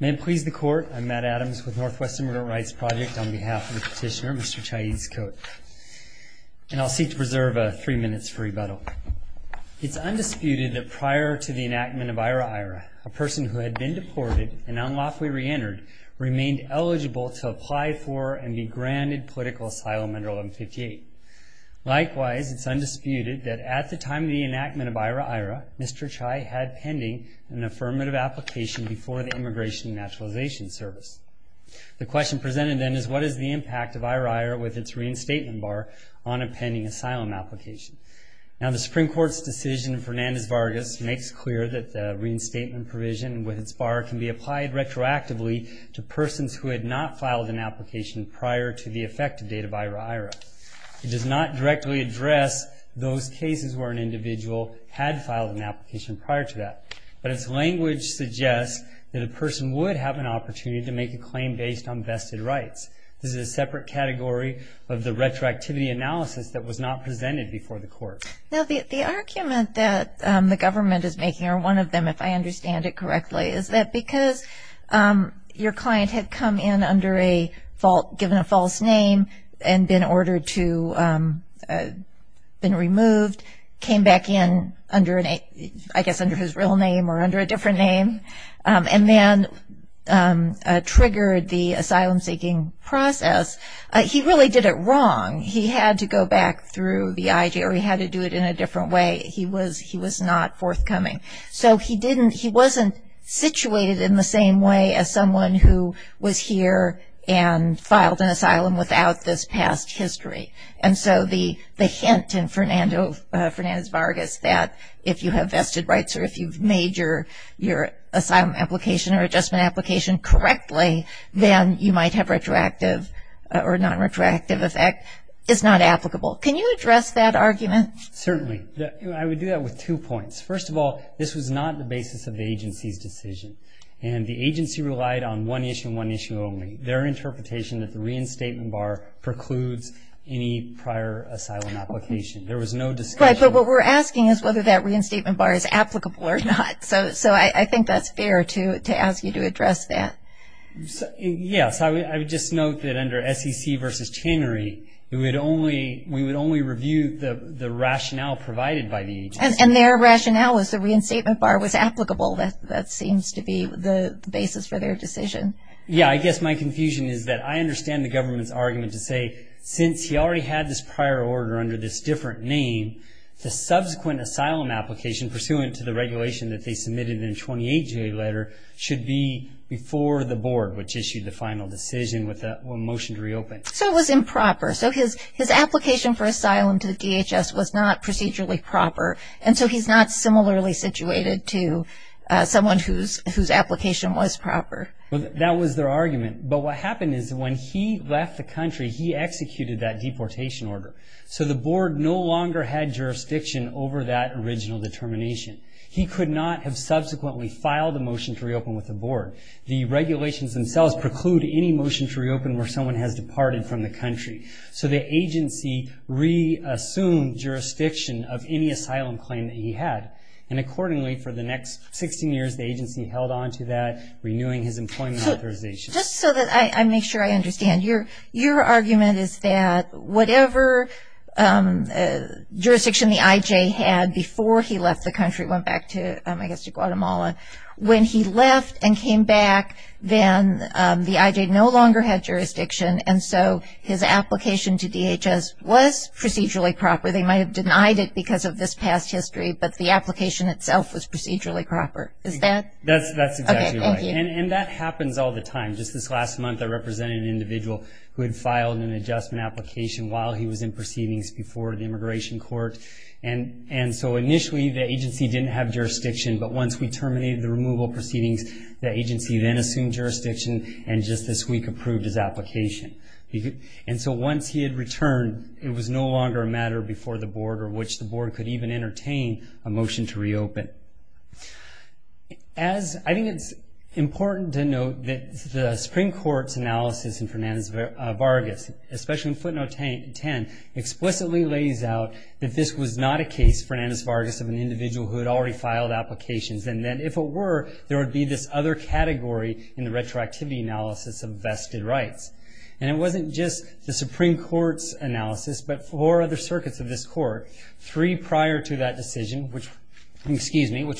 May it please the court, I'm Matt Adams with Northwest Immigrant Rights Project on behalf of the petitioner Mr. Chay Ixcot. And I'll seek to preserve three minutes for rebuttal. It's undisputed that prior to the enactment of IRA-IRA, a person who had been deported and unlawfully re-entered remained eligible to apply for and be granted political asylum under 1158. Likewise, it's undisputed that at the time of the enactment of IRA-IRA, Mr. Chay had pending an affirmative application before the Immigration and Naturalization Service. The question presented then is what is the impact of IRA-IRA with its reinstatement bar on a pending asylum application? Now the Supreme Court's decision in Fernandez-Vargas makes clear that the reinstatement provision with its bar can be applied retroactively to persons who had not filed an application prior to the effective date of IRA-IRA. It does not directly address those cases where an individual had filed an application prior to that. But its language suggests that a person would have an opportunity to make a claim based on vested rights. This is a separate category of the retroactivity analysis that was not presented before the court. Now the argument that the government is making, or one of them if I understand it correctly, is that because your client had come in under a false, given a false name and been ordered to, been removed, came back in under a, I guess under his real name or under a different name, and then triggered the asylum-seeking process, he really did it wrong. He had to go back through the IJ or he had to do it in a different way. He was not forthcoming. So he didn't, he wasn't situated in the same way as someone who was here and filed an asylum without this past history. And so the hint in Fernandez-Vargas that if you have vested rights or if you've made your asylum application or adjustment application correctly, then you might have retroactive or non-retroactive effect is not applicable. Can you address that argument? Certainly. I would do that with two points. First of all, this was not the basis of the agency's decision. And the agency relied on one issue and one issue only, their interpretation that the reinstatement bar precludes any prior asylum application. There was no discussion. Right, but what we're asking is whether that reinstatement bar is applicable or not. So I think that's fair to ask you to address that. Yes, I would just note that under SEC versus Chenery, we would only review the rationale provided by the agency. And their rationale was the reinstatement bar was applicable. That seems to be the basis for their decision. Yeah, I guess my confusion is that I understand the government's argument to say since he already had this prior order under this different name, the subsequent asylum application pursuant to the regulation that they submitted in the 28-J letter should be before the board, which issued the final decision with a motion to reopen. So it was improper. So his application for asylum to DHS was not procedurally proper, and so he's not similarly situated to someone whose application was proper. That was their argument. But what happened is when he left the country, he executed that deportation order. So the board no longer had jurisdiction over that original determination. He could not have subsequently filed a motion to reopen with the board. The regulations themselves preclude any motion to reopen where someone has departed from the country. So the agency reassumed jurisdiction of any asylum claim that he had. And accordingly, for the next 16 years, the agency held on to that, renewing his employment authorization. Just so that I make sure I understand, your argument is that whatever jurisdiction the IJ had before he left the country, went back to, I guess, to Guatemala. When he left and came back, then the IJ no longer had jurisdiction, and so his application to DHS was procedurally proper. They might have denied it because of this past history, but the application itself was procedurally proper. Is that? That's exactly right. Okay, thank you. And that happens all the time. Just this last month, I represented an individual who had filed an adjustment application while he was in proceedings before the immigration court. And so initially, the agency didn't have jurisdiction, but once we terminated the removal proceedings, the agency then assumed jurisdiction and just this week approved his application. And so once he had returned, it was no longer a matter before the board or which the board could even entertain a motion to reopen. I think it's important to note that the Supreme Court's analysis in Fernandez-Vargas, especially in footnote 10, explicitly lays out that this was not a case, Fernandez-Vargas, of an individual who had already filed applications, and that if it were, there would be this other category in the retroactivity analysis of vested rights. And it wasn't just the Supreme Court's analysis, but four other circuits of this court, three prior to that decision, which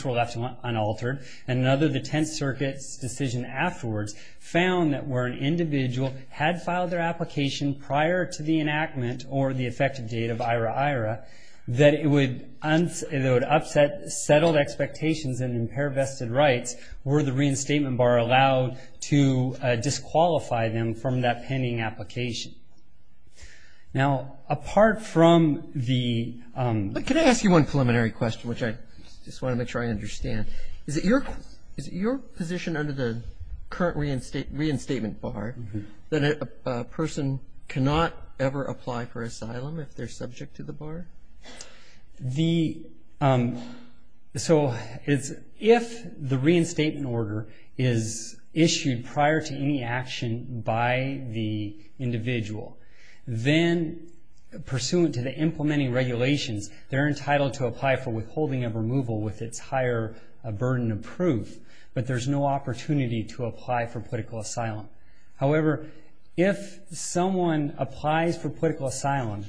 were left unaltered, and another, the Tenth Circuit's decision afterwards, found that where an individual had filed their application prior to the enactment or the effective date of IRA-IRA, that it would upset settled expectations and impair vested rights were the reinstatement bar allowed to disqualify them from that pending application. Now, apart from the... Can I ask you one preliminary question, which I just want to make sure I understand? Is it your position under the current reinstatement bar that a person cannot ever apply for asylum if they're subject to the bar? The... So, if the reinstatement order is issued prior to any action by the individual, then, pursuant to the implementing regulations, they're entitled to apply for withholding of removal with its higher burden of proof, but there's no opportunity to apply for political asylum. However, if someone applies for political asylum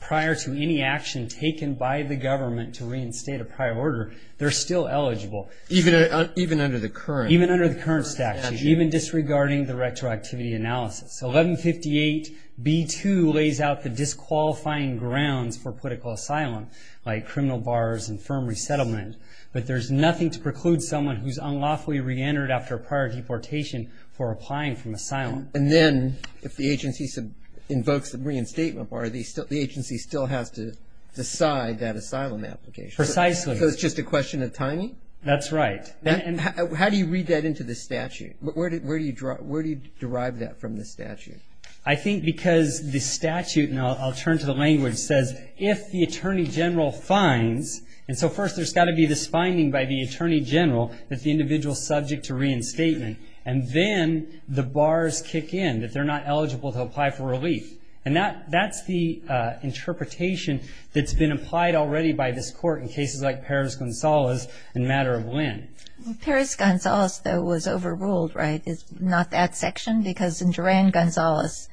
prior to any action taken by the government to reinstate a prior order, they're still eligible. Even under the current... Even under the current statute, even disregarding the retroactivity analysis. 1158B2 lays out the disqualifying grounds for political asylum, like criminal bars and firm resettlement, but there's nothing to preclude someone who's unlawfully reentered after prior deportation for applying for asylum. And then, if the agency invokes the reinstatement bar, the agency still has to decide that asylum application. Precisely. So, it's just a question of timing? That's right. How do you read that into the statute? Where do you derive that from the statute? I think because the statute, and I'll turn to the language, says if the Attorney General finds... And so, first, there's got to be this finding by the Attorney General that the individual's subject to reinstatement, and then the bars kick in, that they're not eligible to apply for relief. And that's the interpretation that's been applied already by this Court in cases like Perez-Gonzalez and Matter of Lend. Perez-Gonzalez, though, was overruled, right? Not that section? Because in Duran-Gonzalez,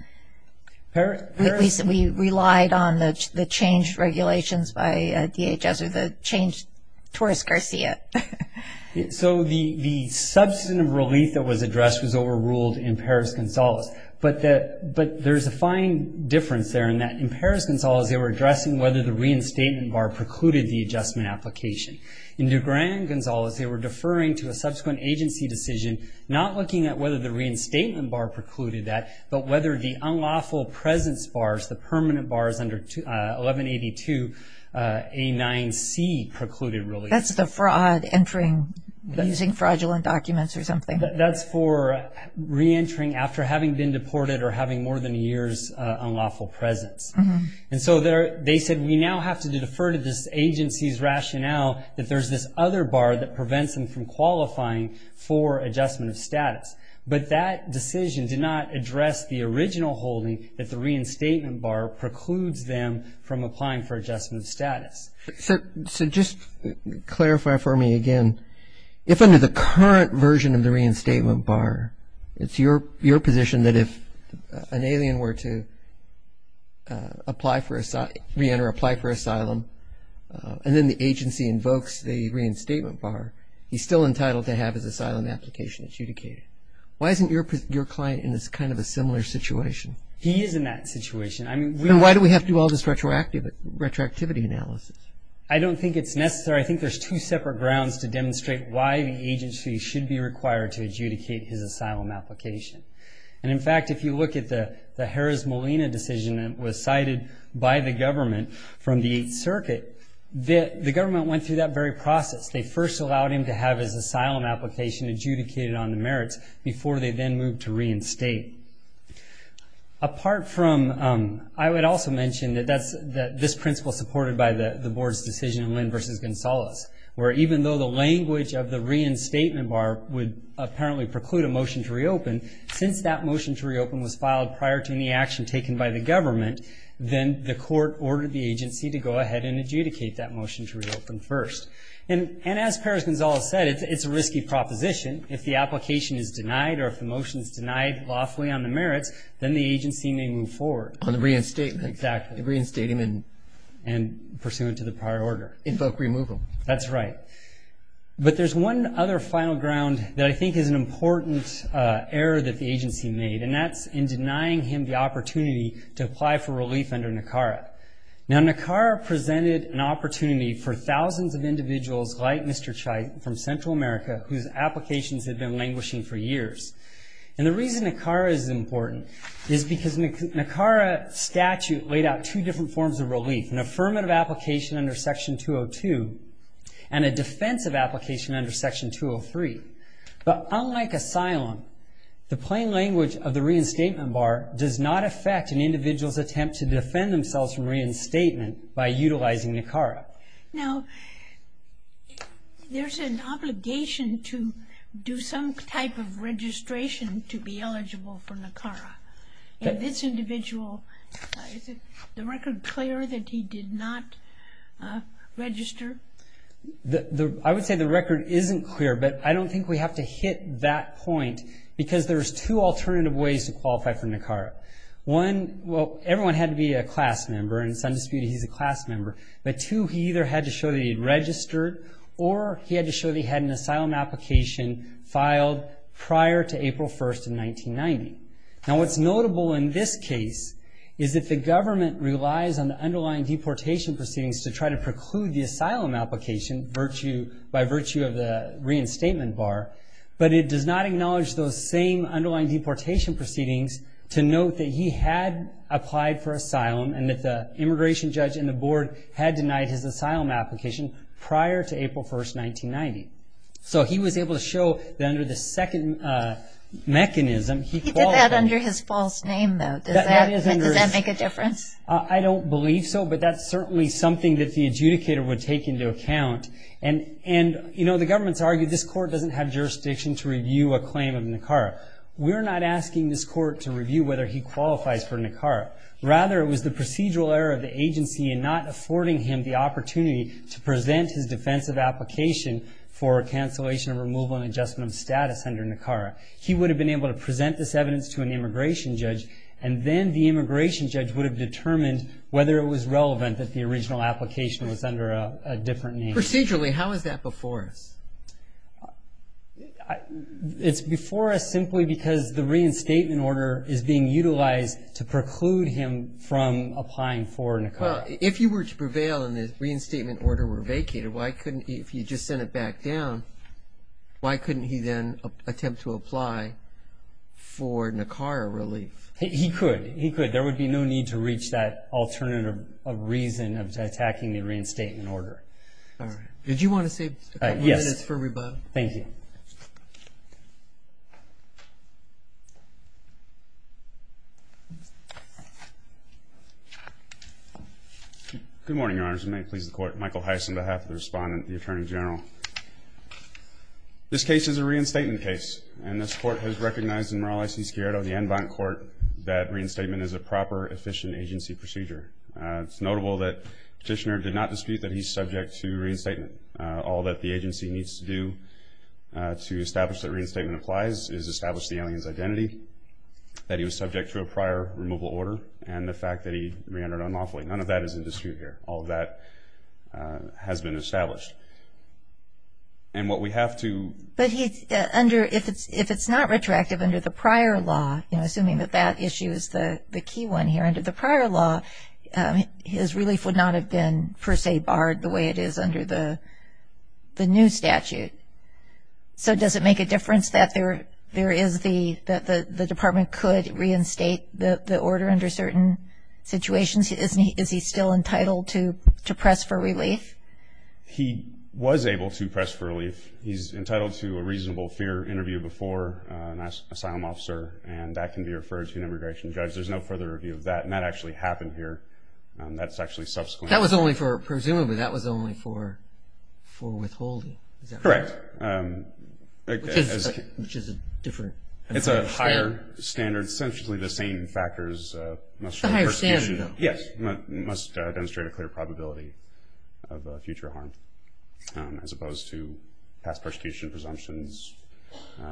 at least we relied on the changed regulations by DHS or the changed Torres-Garcia. So, the substantive relief that was addressed was overruled in Perez-Gonzalez. But there's a fine difference there in that in Perez-Gonzalez, they were addressing whether the reinstatement bar precluded the adjustment application. In Duran-Gonzalez, they were deferring to a subsequent agency decision, not looking at whether the reinstatement bar precluded that, but whether the unlawful presence bars, the permanent bars under 1182A9C, precluded relief. That's the fraud entering using fraudulent documents or something. That's for reentering after having been deported or having more than a year's unlawful presence. And so they said, we now have to defer to this agency's rationale that there's this other bar that prevents them from qualifying for adjustment of status. But that decision did not address the original holding that the reinstatement bar precludes them from applying for adjustment of status. So, just clarify for me again, if under the current version of the reinstatement bar, it's your position that if an alien were to apply for asylum and then the agency invokes the reinstatement bar, he's still entitled to have his asylum application adjudicated. Why isn't your client in this kind of a similar situation? He is in that situation. Why do we have to do all this retroactivity analysis? I don't think it's necessary. I think there's two separate grounds to demonstrate why the agency should be required to adjudicate his asylum application. And, in fact, if you look at the Jerez Molina decision that was cited by the government from the Eighth Circuit, the government went through that very process. They first allowed him to have his asylum application adjudicated on the merits before they then moved to reinstate. Apart from, I would also mention that this principle is supported by the board's decision in Lynn v. Gonzales, where even though the language of the reinstatement bar would apparently preclude a motion to reopen, since that motion to reopen was filed prior to any action taken by the government, then the court ordered the agency to go ahead and adjudicate that motion to reopen first. And as Perez-Gonzales said, it's a risky proposition. If the application is denied or if the motion is denied lawfully on the merits, then the agency may move forward. On the reinstatement. Exactly. Reinstatement. And pursuant to the prior order. Invoke removal. That's right. But there's one other final ground that I think is an important error that the agency made, and that's in denying him the opportunity to apply for relief under NACARA. Now NACARA presented an opportunity for thousands of individuals like Mr. Chait from Central America whose applications had been languishing for years. And the reason NACARA is important is because NACARA statute laid out two different forms of relief, an affirmative application under Section 202 and a defensive application under Section 203. But unlike asylum, the plain language of the reinstatement bar does not affect an individual's attempt to defend themselves from reinstatement by utilizing NACARA. Now there's an obligation to do some type of registration to be eligible for NACARA. And this individual, is the record clear that he did not register? I would say the record isn't clear, but I don't think we have to hit that point because there's two alternative ways to qualify for NACARA. One, well, everyone had to be a class member, and it's undisputed he's a class member. But two, he either had to show that he had registered, or he had to show that he had an asylum application filed prior to April 1st in 1990. Now what's notable in this case is that the government relies on the underlying deportation proceedings to try to preclude the asylum application by virtue of the reinstatement bar, but it does not acknowledge those same underlying deportation proceedings to note that he had applied for asylum, and that the immigration judge and the board had denied his asylum application prior to April 1st, 1990. So he was able to show that under the second mechanism, he qualified. He did that under his false name, though. Does that make a difference? I don't believe so, but that's certainly something that the adjudicator would take into account. And, you know, the government's argued this court doesn't have jurisdiction to review a claim of NACARA. We're not asking this court to review whether he qualifies for NACARA. Rather, it was the procedural error of the agency in not affording him the opportunity to present his defensive application for cancellation of removal and adjustment of status under NACARA. He would have been able to present this evidence to an immigration judge, and then the immigration judge would have determined whether it was relevant that the original application was under a different name. Procedurally, how is that before us? It's before us simply because the reinstatement order is being utilized to preclude him from applying for NACARA. Well, if you were to prevail and the reinstatement order were vacated, if you just sent it back down, why couldn't he then attempt to apply for NACARA relief? He could. There would be no need to reach that alternative reason of attacking the reinstatement order. All right. Did you want to save a couple minutes for rebuttal? Yes. Thank you. Good morning, Your Honors. May it please the Court. Michael Heiss on behalf of the Respondent and the Attorney General. This case is a reinstatement case, and this Court has recognized in Morales v. Sciarretto, the en banc court, that reinstatement is a proper, efficient agency procedure. It's notable that Petitioner did not dispute that he's subject to reinstatement. All that the agency needs to do to establish that reinstatement applies is establish the alien's identity, that he was subject to a prior removal order, and the fact that he re-entered unlawfully. None of that is in dispute here. All of that has been established. And what we have to – But if it's not retroactive under the prior law, assuming that that issue is the key one here under the prior law, his relief would not have been per se barred the way it is under the new statute. So does it make a difference that there is the – that the Department could reinstate the order under certain situations? Is he still entitled to press for relief? He was able to press for relief. He's entitled to a reasonable fear interview before an asylum officer, and that can be referred to an immigration judge. There's no further review of that, and that actually happened here. That's actually subsequent. That was only for – presumably that was only for withholding. Is that correct? Correct. Which is a different – It's a higher standard. Essentially the same factors must – It's a higher standard, though. Yes. It must demonstrate a clear probability of future harm, as opposed to past persecution presumptions,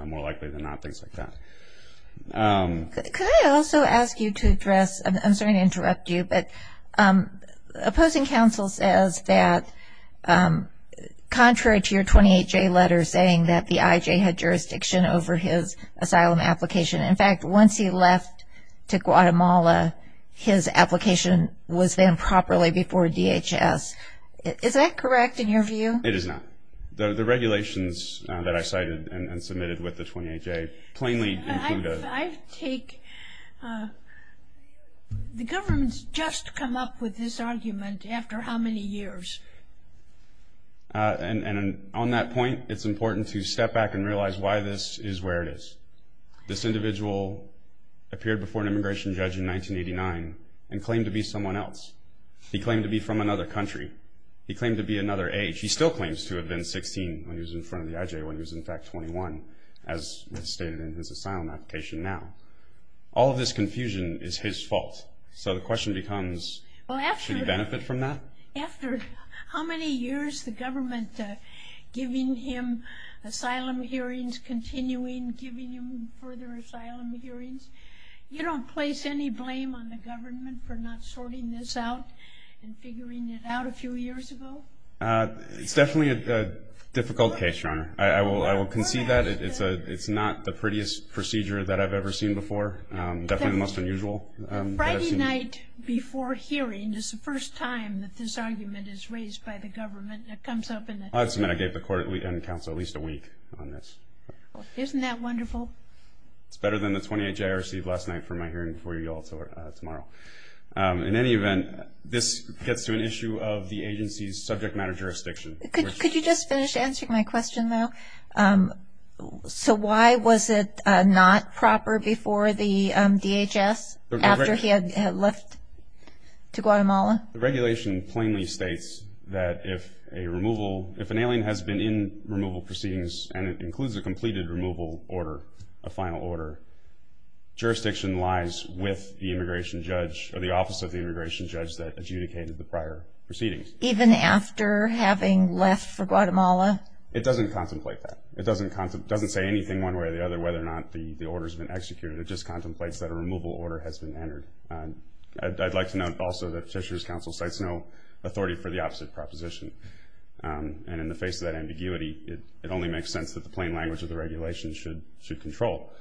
more likely than not, things like that. Could I also ask you to address – I'm sorry to interrupt you, but opposing counsel says that contrary to your 28J letter saying that the IJ had jurisdiction over his asylum application, in fact, once he left to Guatemala, his application was then properly before DHS. Is that correct in your view? It is not. The regulations that I cited and submitted with the 28J plainly include a – I take – the government's just come up with this argument after how many years? And on that point, it's important to step back and realize why this is where it is. This individual appeared before an immigration judge in 1989 and claimed to be someone else. He claimed to be from another country. He claimed to be another age. He still claims to have been 16 when he was in front of the IJ when he was, in fact, 21, as stated in his asylum application now. All of this confusion is his fault. So the question becomes, should he benefit from that? After how many years, the government giving him asylum hearings, continuing giving him further asylum hearings, you don't place any blame on the government for not sorting this out and figuring it out a few years ago? It's definitely a difficult case, Your Honor. I will concede that. It's not the prettiest procedure that I've ever seen before, definitely the most unusual that I've seen. Last night before hearing is the first time that this argument is raised by the government. It comes up in the court. I submit I gave the court and counsel at least a week on this. Isn't that wonderful? It's better than the 28th I received last night from my hearing before you all tomorrow. In any event, this gets to an issue of the agency's subject matter jurisdiction. Could you just finish answering my question, though? So why was it not proper before the DHS after he had left to Guatemala? The regulation plainly states that if a removal, if an alien has been in removal proceedings and it includes a completed removal order, a final order, jurisdiction lies with the immigration judge or the office of the immigration judge that adjudicated the prior proceedings. Even after having left for Guatemala? It doesn't contemplate that. It doesn't say anything one way or the other whether or not the order has been executed. It just contemplates that a removal order has been entered. I'd like to note also that Petitioner's counsel cites no authority for the opposite proposition. And in the face of that ambiguity, it only makes sense that the plain language of the regulation should control.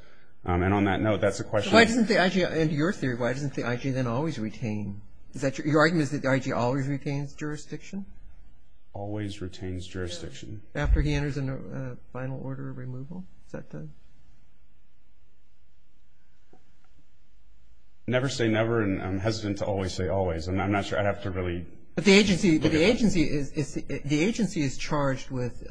And on that note, that's a question. Why doesn't the IG, in your theory, why doesn't the IG then always retain? Is that your argument is that the IG always retains jurisdiction? Always retains jurisdiction. After he enters a final order of removal? Never say never, and I'm hesitant to always say always, and I'm not sure I'd have to really. But the agency is charged with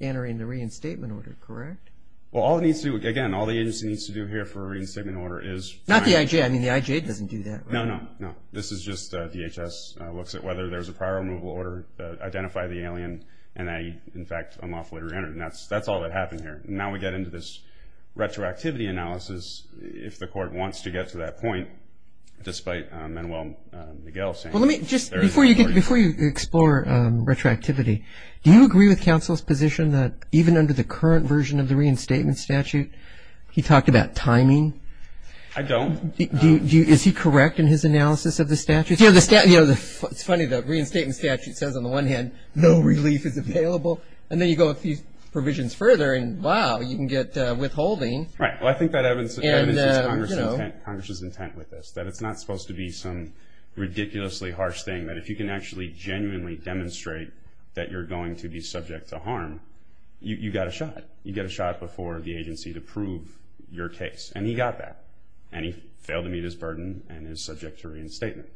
entering the reinstatement order, correct? Well, all it needs to do, again, all the agency needs to do here for a reinstatement order is. Not the IG. I mean, the IG doesn't do that. No, no, no. This is just DHS looks at whether there's a prior removal order, identify the alien, and in fact, unlawfully reentered. And that's all that happened here. Now we get into this retroactivity analysis, if the court wants to get to that point, despite Manuel Miguel saying. Well, let me just, before you explore retroactivity, do you agree with counsel's position that even under the current version of the reinstatement statute, he talked about timing? I don't. Is he correct in his analysis of the statute? It's funny, the reinstatement statute says on the one hand, no relief is available, and then you go a few provisions further, and wow, you can get withholding. Right. Well, I think that evidence is Congress's intent with this, that it's not supposed to be some ridiculously harsh thing, that if you can actually genuinely demonstrate that you're going to be subject to harm, you got a shot. You get a shot before the agency to prove your case, and he got that. And he failed to meet his burden and is subject to reinstatement.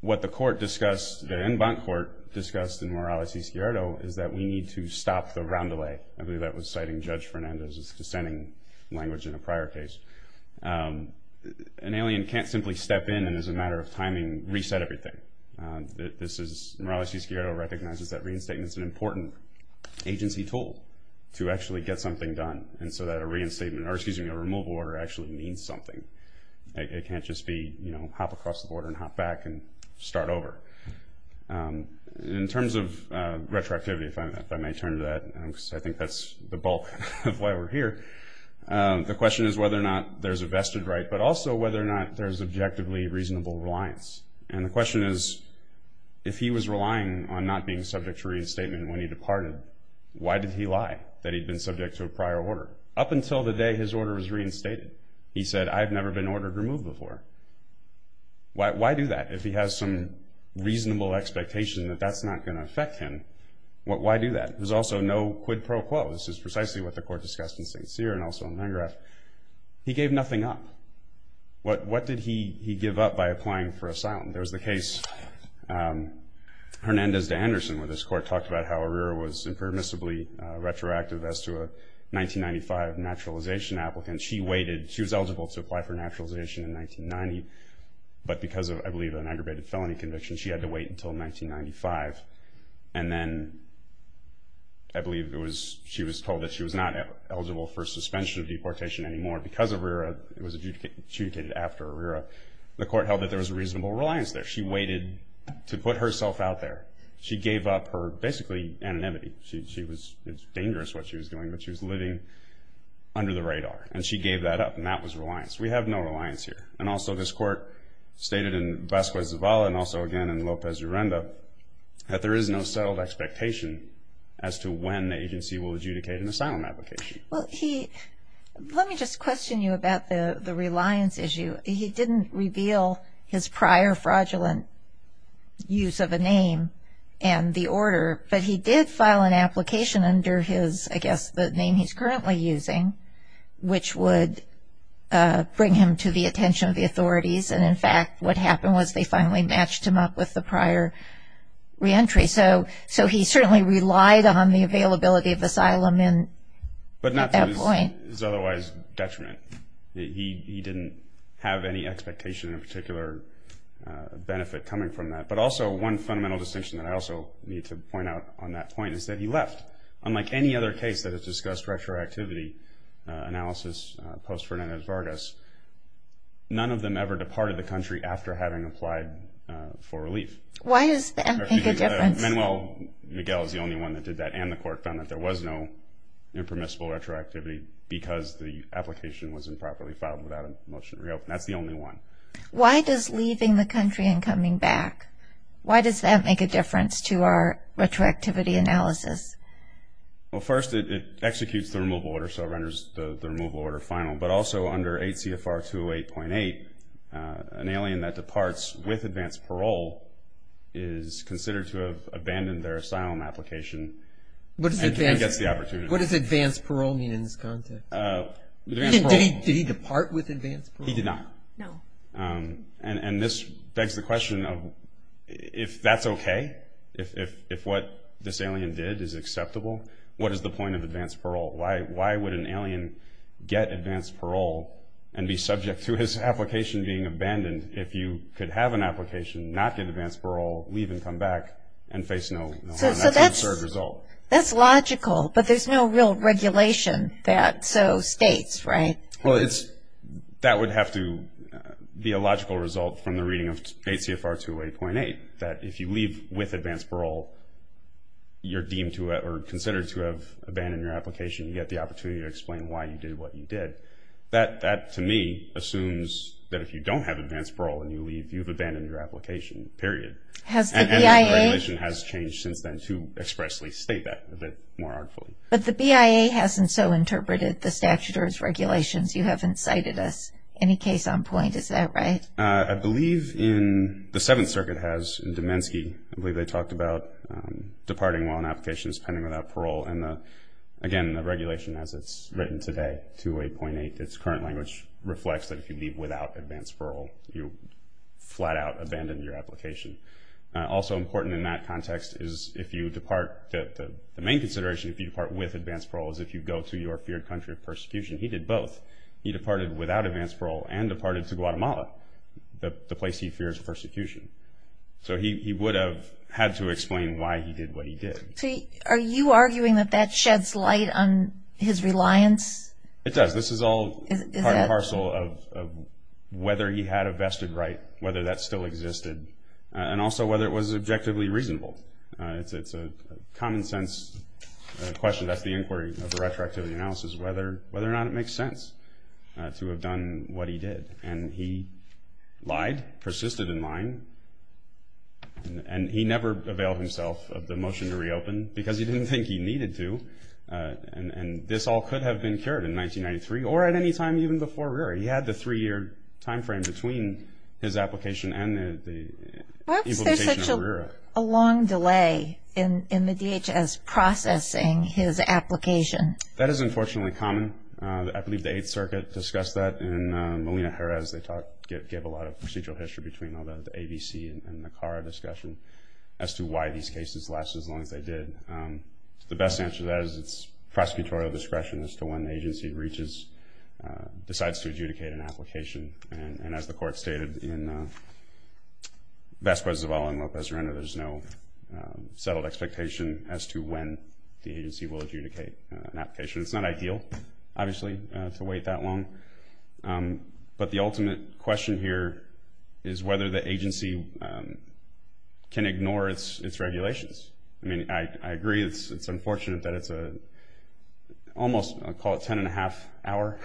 What the court discussed, the en banc court discussed in Morales v. Sghiardo, is that we need to stop the roundelay. I believe that was citing Judge Fernandez's dissenting language in a prior case. An alien can't simply step in and, as a matter of timing, reset everything. Morales v. Sghiardo recognizes that reinstatement is an important agency tool to actually get something done, and so that a removal order actually means something. It can't just be hop across the border and hop back and start over. In terms of retroactivity, if I may turn to that, because I think that's the bulk of why we're here, the question is whether or not there's a vested right, but also whether or not there's objectively reasonable reliance. And the question is, if he was relying on not being subject to reinstatement when he departed, why did he lie that he'd been subject to a prior order? Up until the day his order was reinstated, he said, I've never been ordered removed before. Why do that? If he has some reasonable expectation that that's not going to affect him, why do that? There's also no quid pro quo. This is precisely what the court discussed in St. Cyr and also in Mangreve. He gave nothing up. What did he give up by applying for asylum? There's the case Hernandez v. Anderson, where this court talked about how Arrera was impermissibly retroactive as to a 1995 naturalization applicant. She waited. She was eligible to apply for naturalization in 1990, but because of, I believe, an aggravated felony conviction, she had to wait until 1995. And then I believe she was told that she was not eligible for suspension of deportation anymore because of Arrera. It was adjudicated after Arrera. The court held that there was a reasonable reliance there. She waited to put herself out there. She gave up her basically anonymity. It's dangerous what she was doing, but she was living under the radar. And she gave that up, and that was reliance. We have no reliance here. And also this court stated in Vasquez-Zavala and also, again, in Lopez-Urrenda, that there is no settled expectation as to when the agency will adjudicate an asylum application. Well, let me just question you about the reliance issue. He didn't reveal his prior fraudulent use of a name and the order, but he did file an application under his, I guess, the name he's currently using, which would bring him to the attention of the authorities. And, in fact, what happened was they finally matched him up with the prior reentry. So he certainly relied on the availability of asylum at that point. But not to his otherwise detriment. He didn't have any expectation of a particular benefit coming from that. But also one fundamental distinction that I also need to point out on that point is that he left. Unlike any other case that has discussed retroactivity analysis post-Fernandez-Vargas, none of them ever departed the country after having applied for relief. Why does that make a difference? Manuel Miguel is the only one that did that, and the court found that there was no impermissible retroactivity because the application was improperly filed without a motion to reopen. That's the only one. Why does leaving the country and coming back, why does that make a difference to our retroactivity analysis? Well, first, it executes the removal order, so it renders the removal order final. But also under 8 CFR 208.8, an alien that departs with advance parole is considered to have abandoned their asylum application. What does advance parole mean in this context? Did he depart with advance parole? He did not. No. And this begs the question of if that's okay, if what this alien did is acceptable, what is the point of advance parole? Why would an alien get advance parole and be subject to his application being abandoned if you could have an application, not get advance parole, leave and come back, and face no harm? That's an absurd result. That's logical, but there's no real regulation that so states, right? Well, that would have to be a logical result from the reading of 8 CFR 208.8, that if you leave with advance parole, you're deemed to or considered to have abandoned your application. You get the opportunity to explain why you did what you did. That, to me, assumes that if you don't have advance parole and you leave, you've abandoned your application, period. Has the BIA? And the regulation has changed since then to expressly state that a bit more artfully. But the BIA hasn't so interpreted the statute or its regulations. You haven't cited us. Any case on point? Is that right? I believe in the Seventh Circuit has, in Domensky, I believe they talked about departing while an application is pending without parole. And, again, the regulation, as it's written today, 208.8, its current language, reflects that if you leave without advance parole, you flat out abandon your application. Also important in that context is if you depart, the main consideration if you depart with advance parole is if you go to your feared country of persecution. He did both. He departed without advance parole and departed to Guatemala, the place he fears persecution. So he would have had to explain why he did what he did. Are you arguing that that sheds light on his reliance? It does. This is all part and parcel of whether he had a vested right, whether that still existed, and also whether it was objectively reasonable. It's a common sense question. That's the inquiry of the retroactivity analysis, whether or not it makes sense to have done what he did. And he lied, persisted in lying, and he never availed himself of the motion to reopen because he didn't think he needed to. And this all could have been cured in 1993 or at any time even before RERA. He had the three-year time frame between his application and the implementation of RERA. Was there a long delay in the DHS processing his application? That is unfortunately common. I believe the Eighth Circuit discussed that. And Molina-Jerez, they gave a lot of procedural history between all the ABC and NACARA discussion as to why these cases lasted as long as they did. The best answer to that is it's prosecutorial discretion as to when the agency reaches, decides to adjudicate an application. And as the Court stated in Vasquez-Zavala and Lopez-Renner, there's no settled expectation as to when the agency will adjudicate an application. It's not ideal, obviously, to wait that long. But the ultimate question here is whether the agency can ignore its regulations. I mean, I agree it's unfortunate that it's almost, I'll call it a ten-and-a-half-hour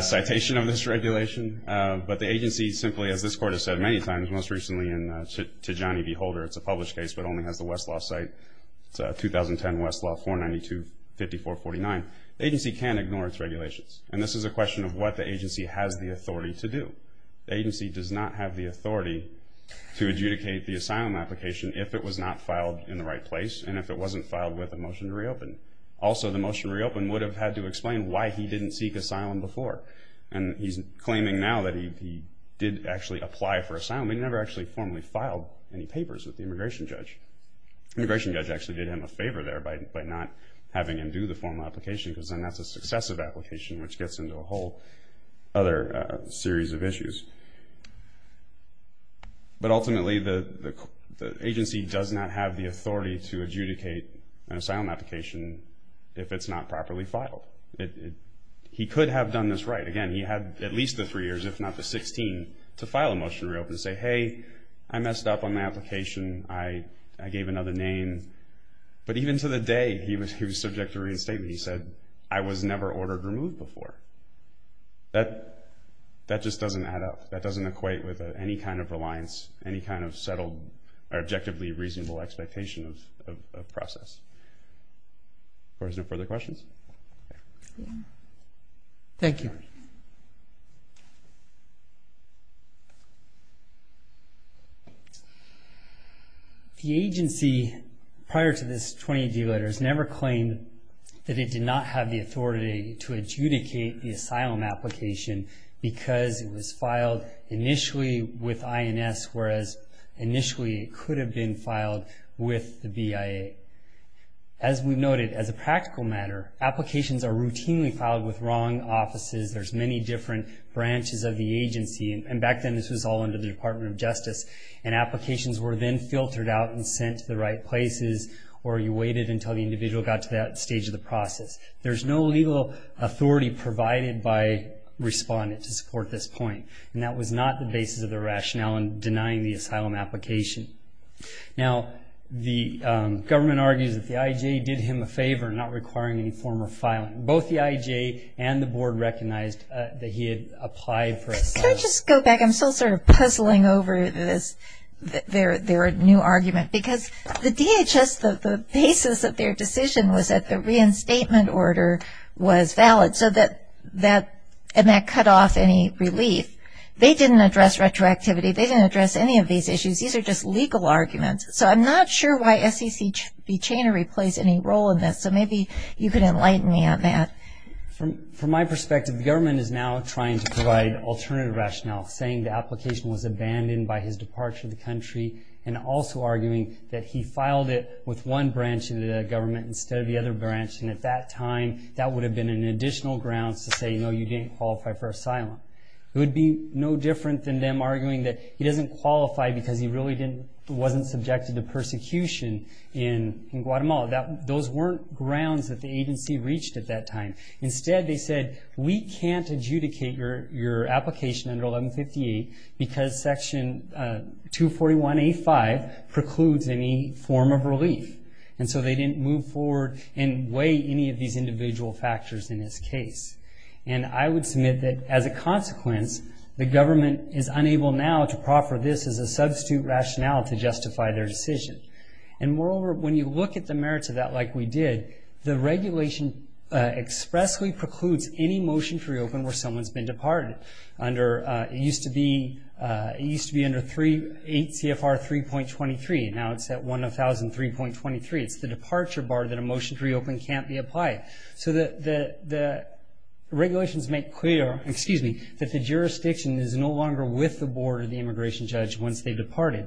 citation of this regulation. But the agency simply, as this Court has said many times, most recently in Tijani v. Holder, it's a published case but only has the Westlaw site. It's a 2010 Westlaw 492-5449. The agency can ignore its regulations. And this is a question of what the agency has the authority to do. The agency does not have the authority to adjudicate the asylum application if it was not filed in the right place and if it wasn't filed with a motion to reopen. Also, the motion to reopen would have had to explain why he didn't seek asylum before. And he's claiming now that he did actually apply for asylum. He never actually formally filed any papers with the immigration judge. The immigration judge actually did him a favor there by not having him do the formal application because then that's a successive application, which gets into a whole other series of issues. But ultimately, the agency does not have the authority to adjudicate an asylum application if it's not properly filed. He could have done this right. Again, he had at least the three years, if not the 16, to file a motion to reopen and say, hey, I messed up on my application, I gave another name. But even to the day he was subject to reinstatement, he said, I was never ordered removed before. That just doesn't add up. That doesn't equate with any kind of reliance, any kind of settled or objectively reasonable expectation of process. Of course, no further questions? Thank you. Thank you. The agency, prior to this 20-D letter, has never claimed that it did not have the authority to adjudicate the asylum application because it was filed initially with INS, whereas initially it could have been filed with the BIA. As we noted, as a practical matter, applications are routinely filed with wrong offices. There's many different branches of the agency, and back then this was all under the Department of Justice, and applications were then filtered out and sent to the right places or you waited until the individual got to that stage of the process. There's no legal authority provided by respondent to support this point, and that was not the basis of the rationale in denying the asylum application. Now, the government argues that the IJ did him a favor in not requiring any form of filing. Both the IJ and the board recognized that he had applied for asylum. Can I just go back? I'm still sort of puzzling over this, their new argument, because the DHS, the basis of their decision was that the reinstatement order was valid, and that cut off any relief. They didn't address retroactivity. They didn't address any of these issues. These are just legal arguments, so I'm not sure why SECB chainery plays any role in this, so maybe you could enlighten me on that. From my perspective, the government is now trying to provide alternative rationale, saying the application was abandoned by his departure of the country and also arguing that he filed it with one branch of the government instead of the other branch, and at that time that would have been an additional grounds to say, no, you didn't qualify for asylum. It would be no different than them arguing that he doesn't qualify because he really wasn't subjected to persecution in Guatemala. Those weren't grounds that the agency reached at that time. Instead, they said, we can't adjudicate your application under 1158 because Section 241A.5 precludes any form of relief, and so they didn't move forward and weigh any of these individual factors in this case. And I would submit that, as a consequence, the government is unable now to proffer this as a substitute rationale to justify their decision. And moreover, when you look at the merits of that like we did, the regulation expressly precludes any motion to reopen where someone's been departed. It used to be under 8 CFR 3.23, and now it's at 1003.23. It's the departure bar that a motion to reopen can't be applied. So the regulations make clear, excuse me, that the jurisdiction is no longer with the board or the immigration judge once they've departed.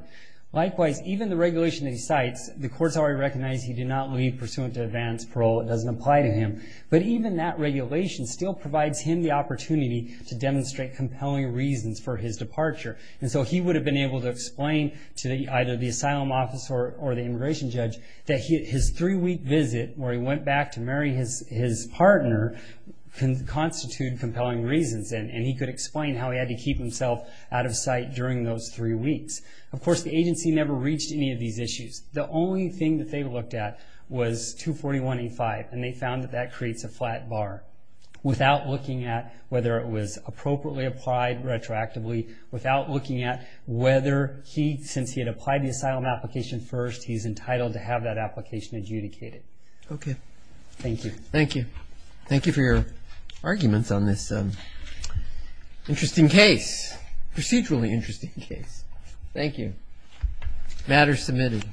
Likewise, even the regulation that he cites, the courts already recognize he did not leave pursuant to advance parole. It doesn't apply to him. But even that regulation still provides him the opportunity to demonstrate compelling reasons for his departure. And so he would have been able to explain to either the asylum officer or the immigration judge that his three-week visit, where he went back to marry his partner, can constitute compelling reasons. And he could explain how he had to keep himself out of sight during those three weeks. Of course, the agency never reached any of these issues. The only thing that they looked at was 241.85, and they found that that creates a flat bar. Without looking at whether it was appropriately applied retroactively, without looking at whether he, since he had applied the asylum application first, he's entitled to have that application adjudicated. Okay. Thank you. Thank you. Thank you for your arguments on this interesting case, procedurally interesting case. Thank you. Matter submitted.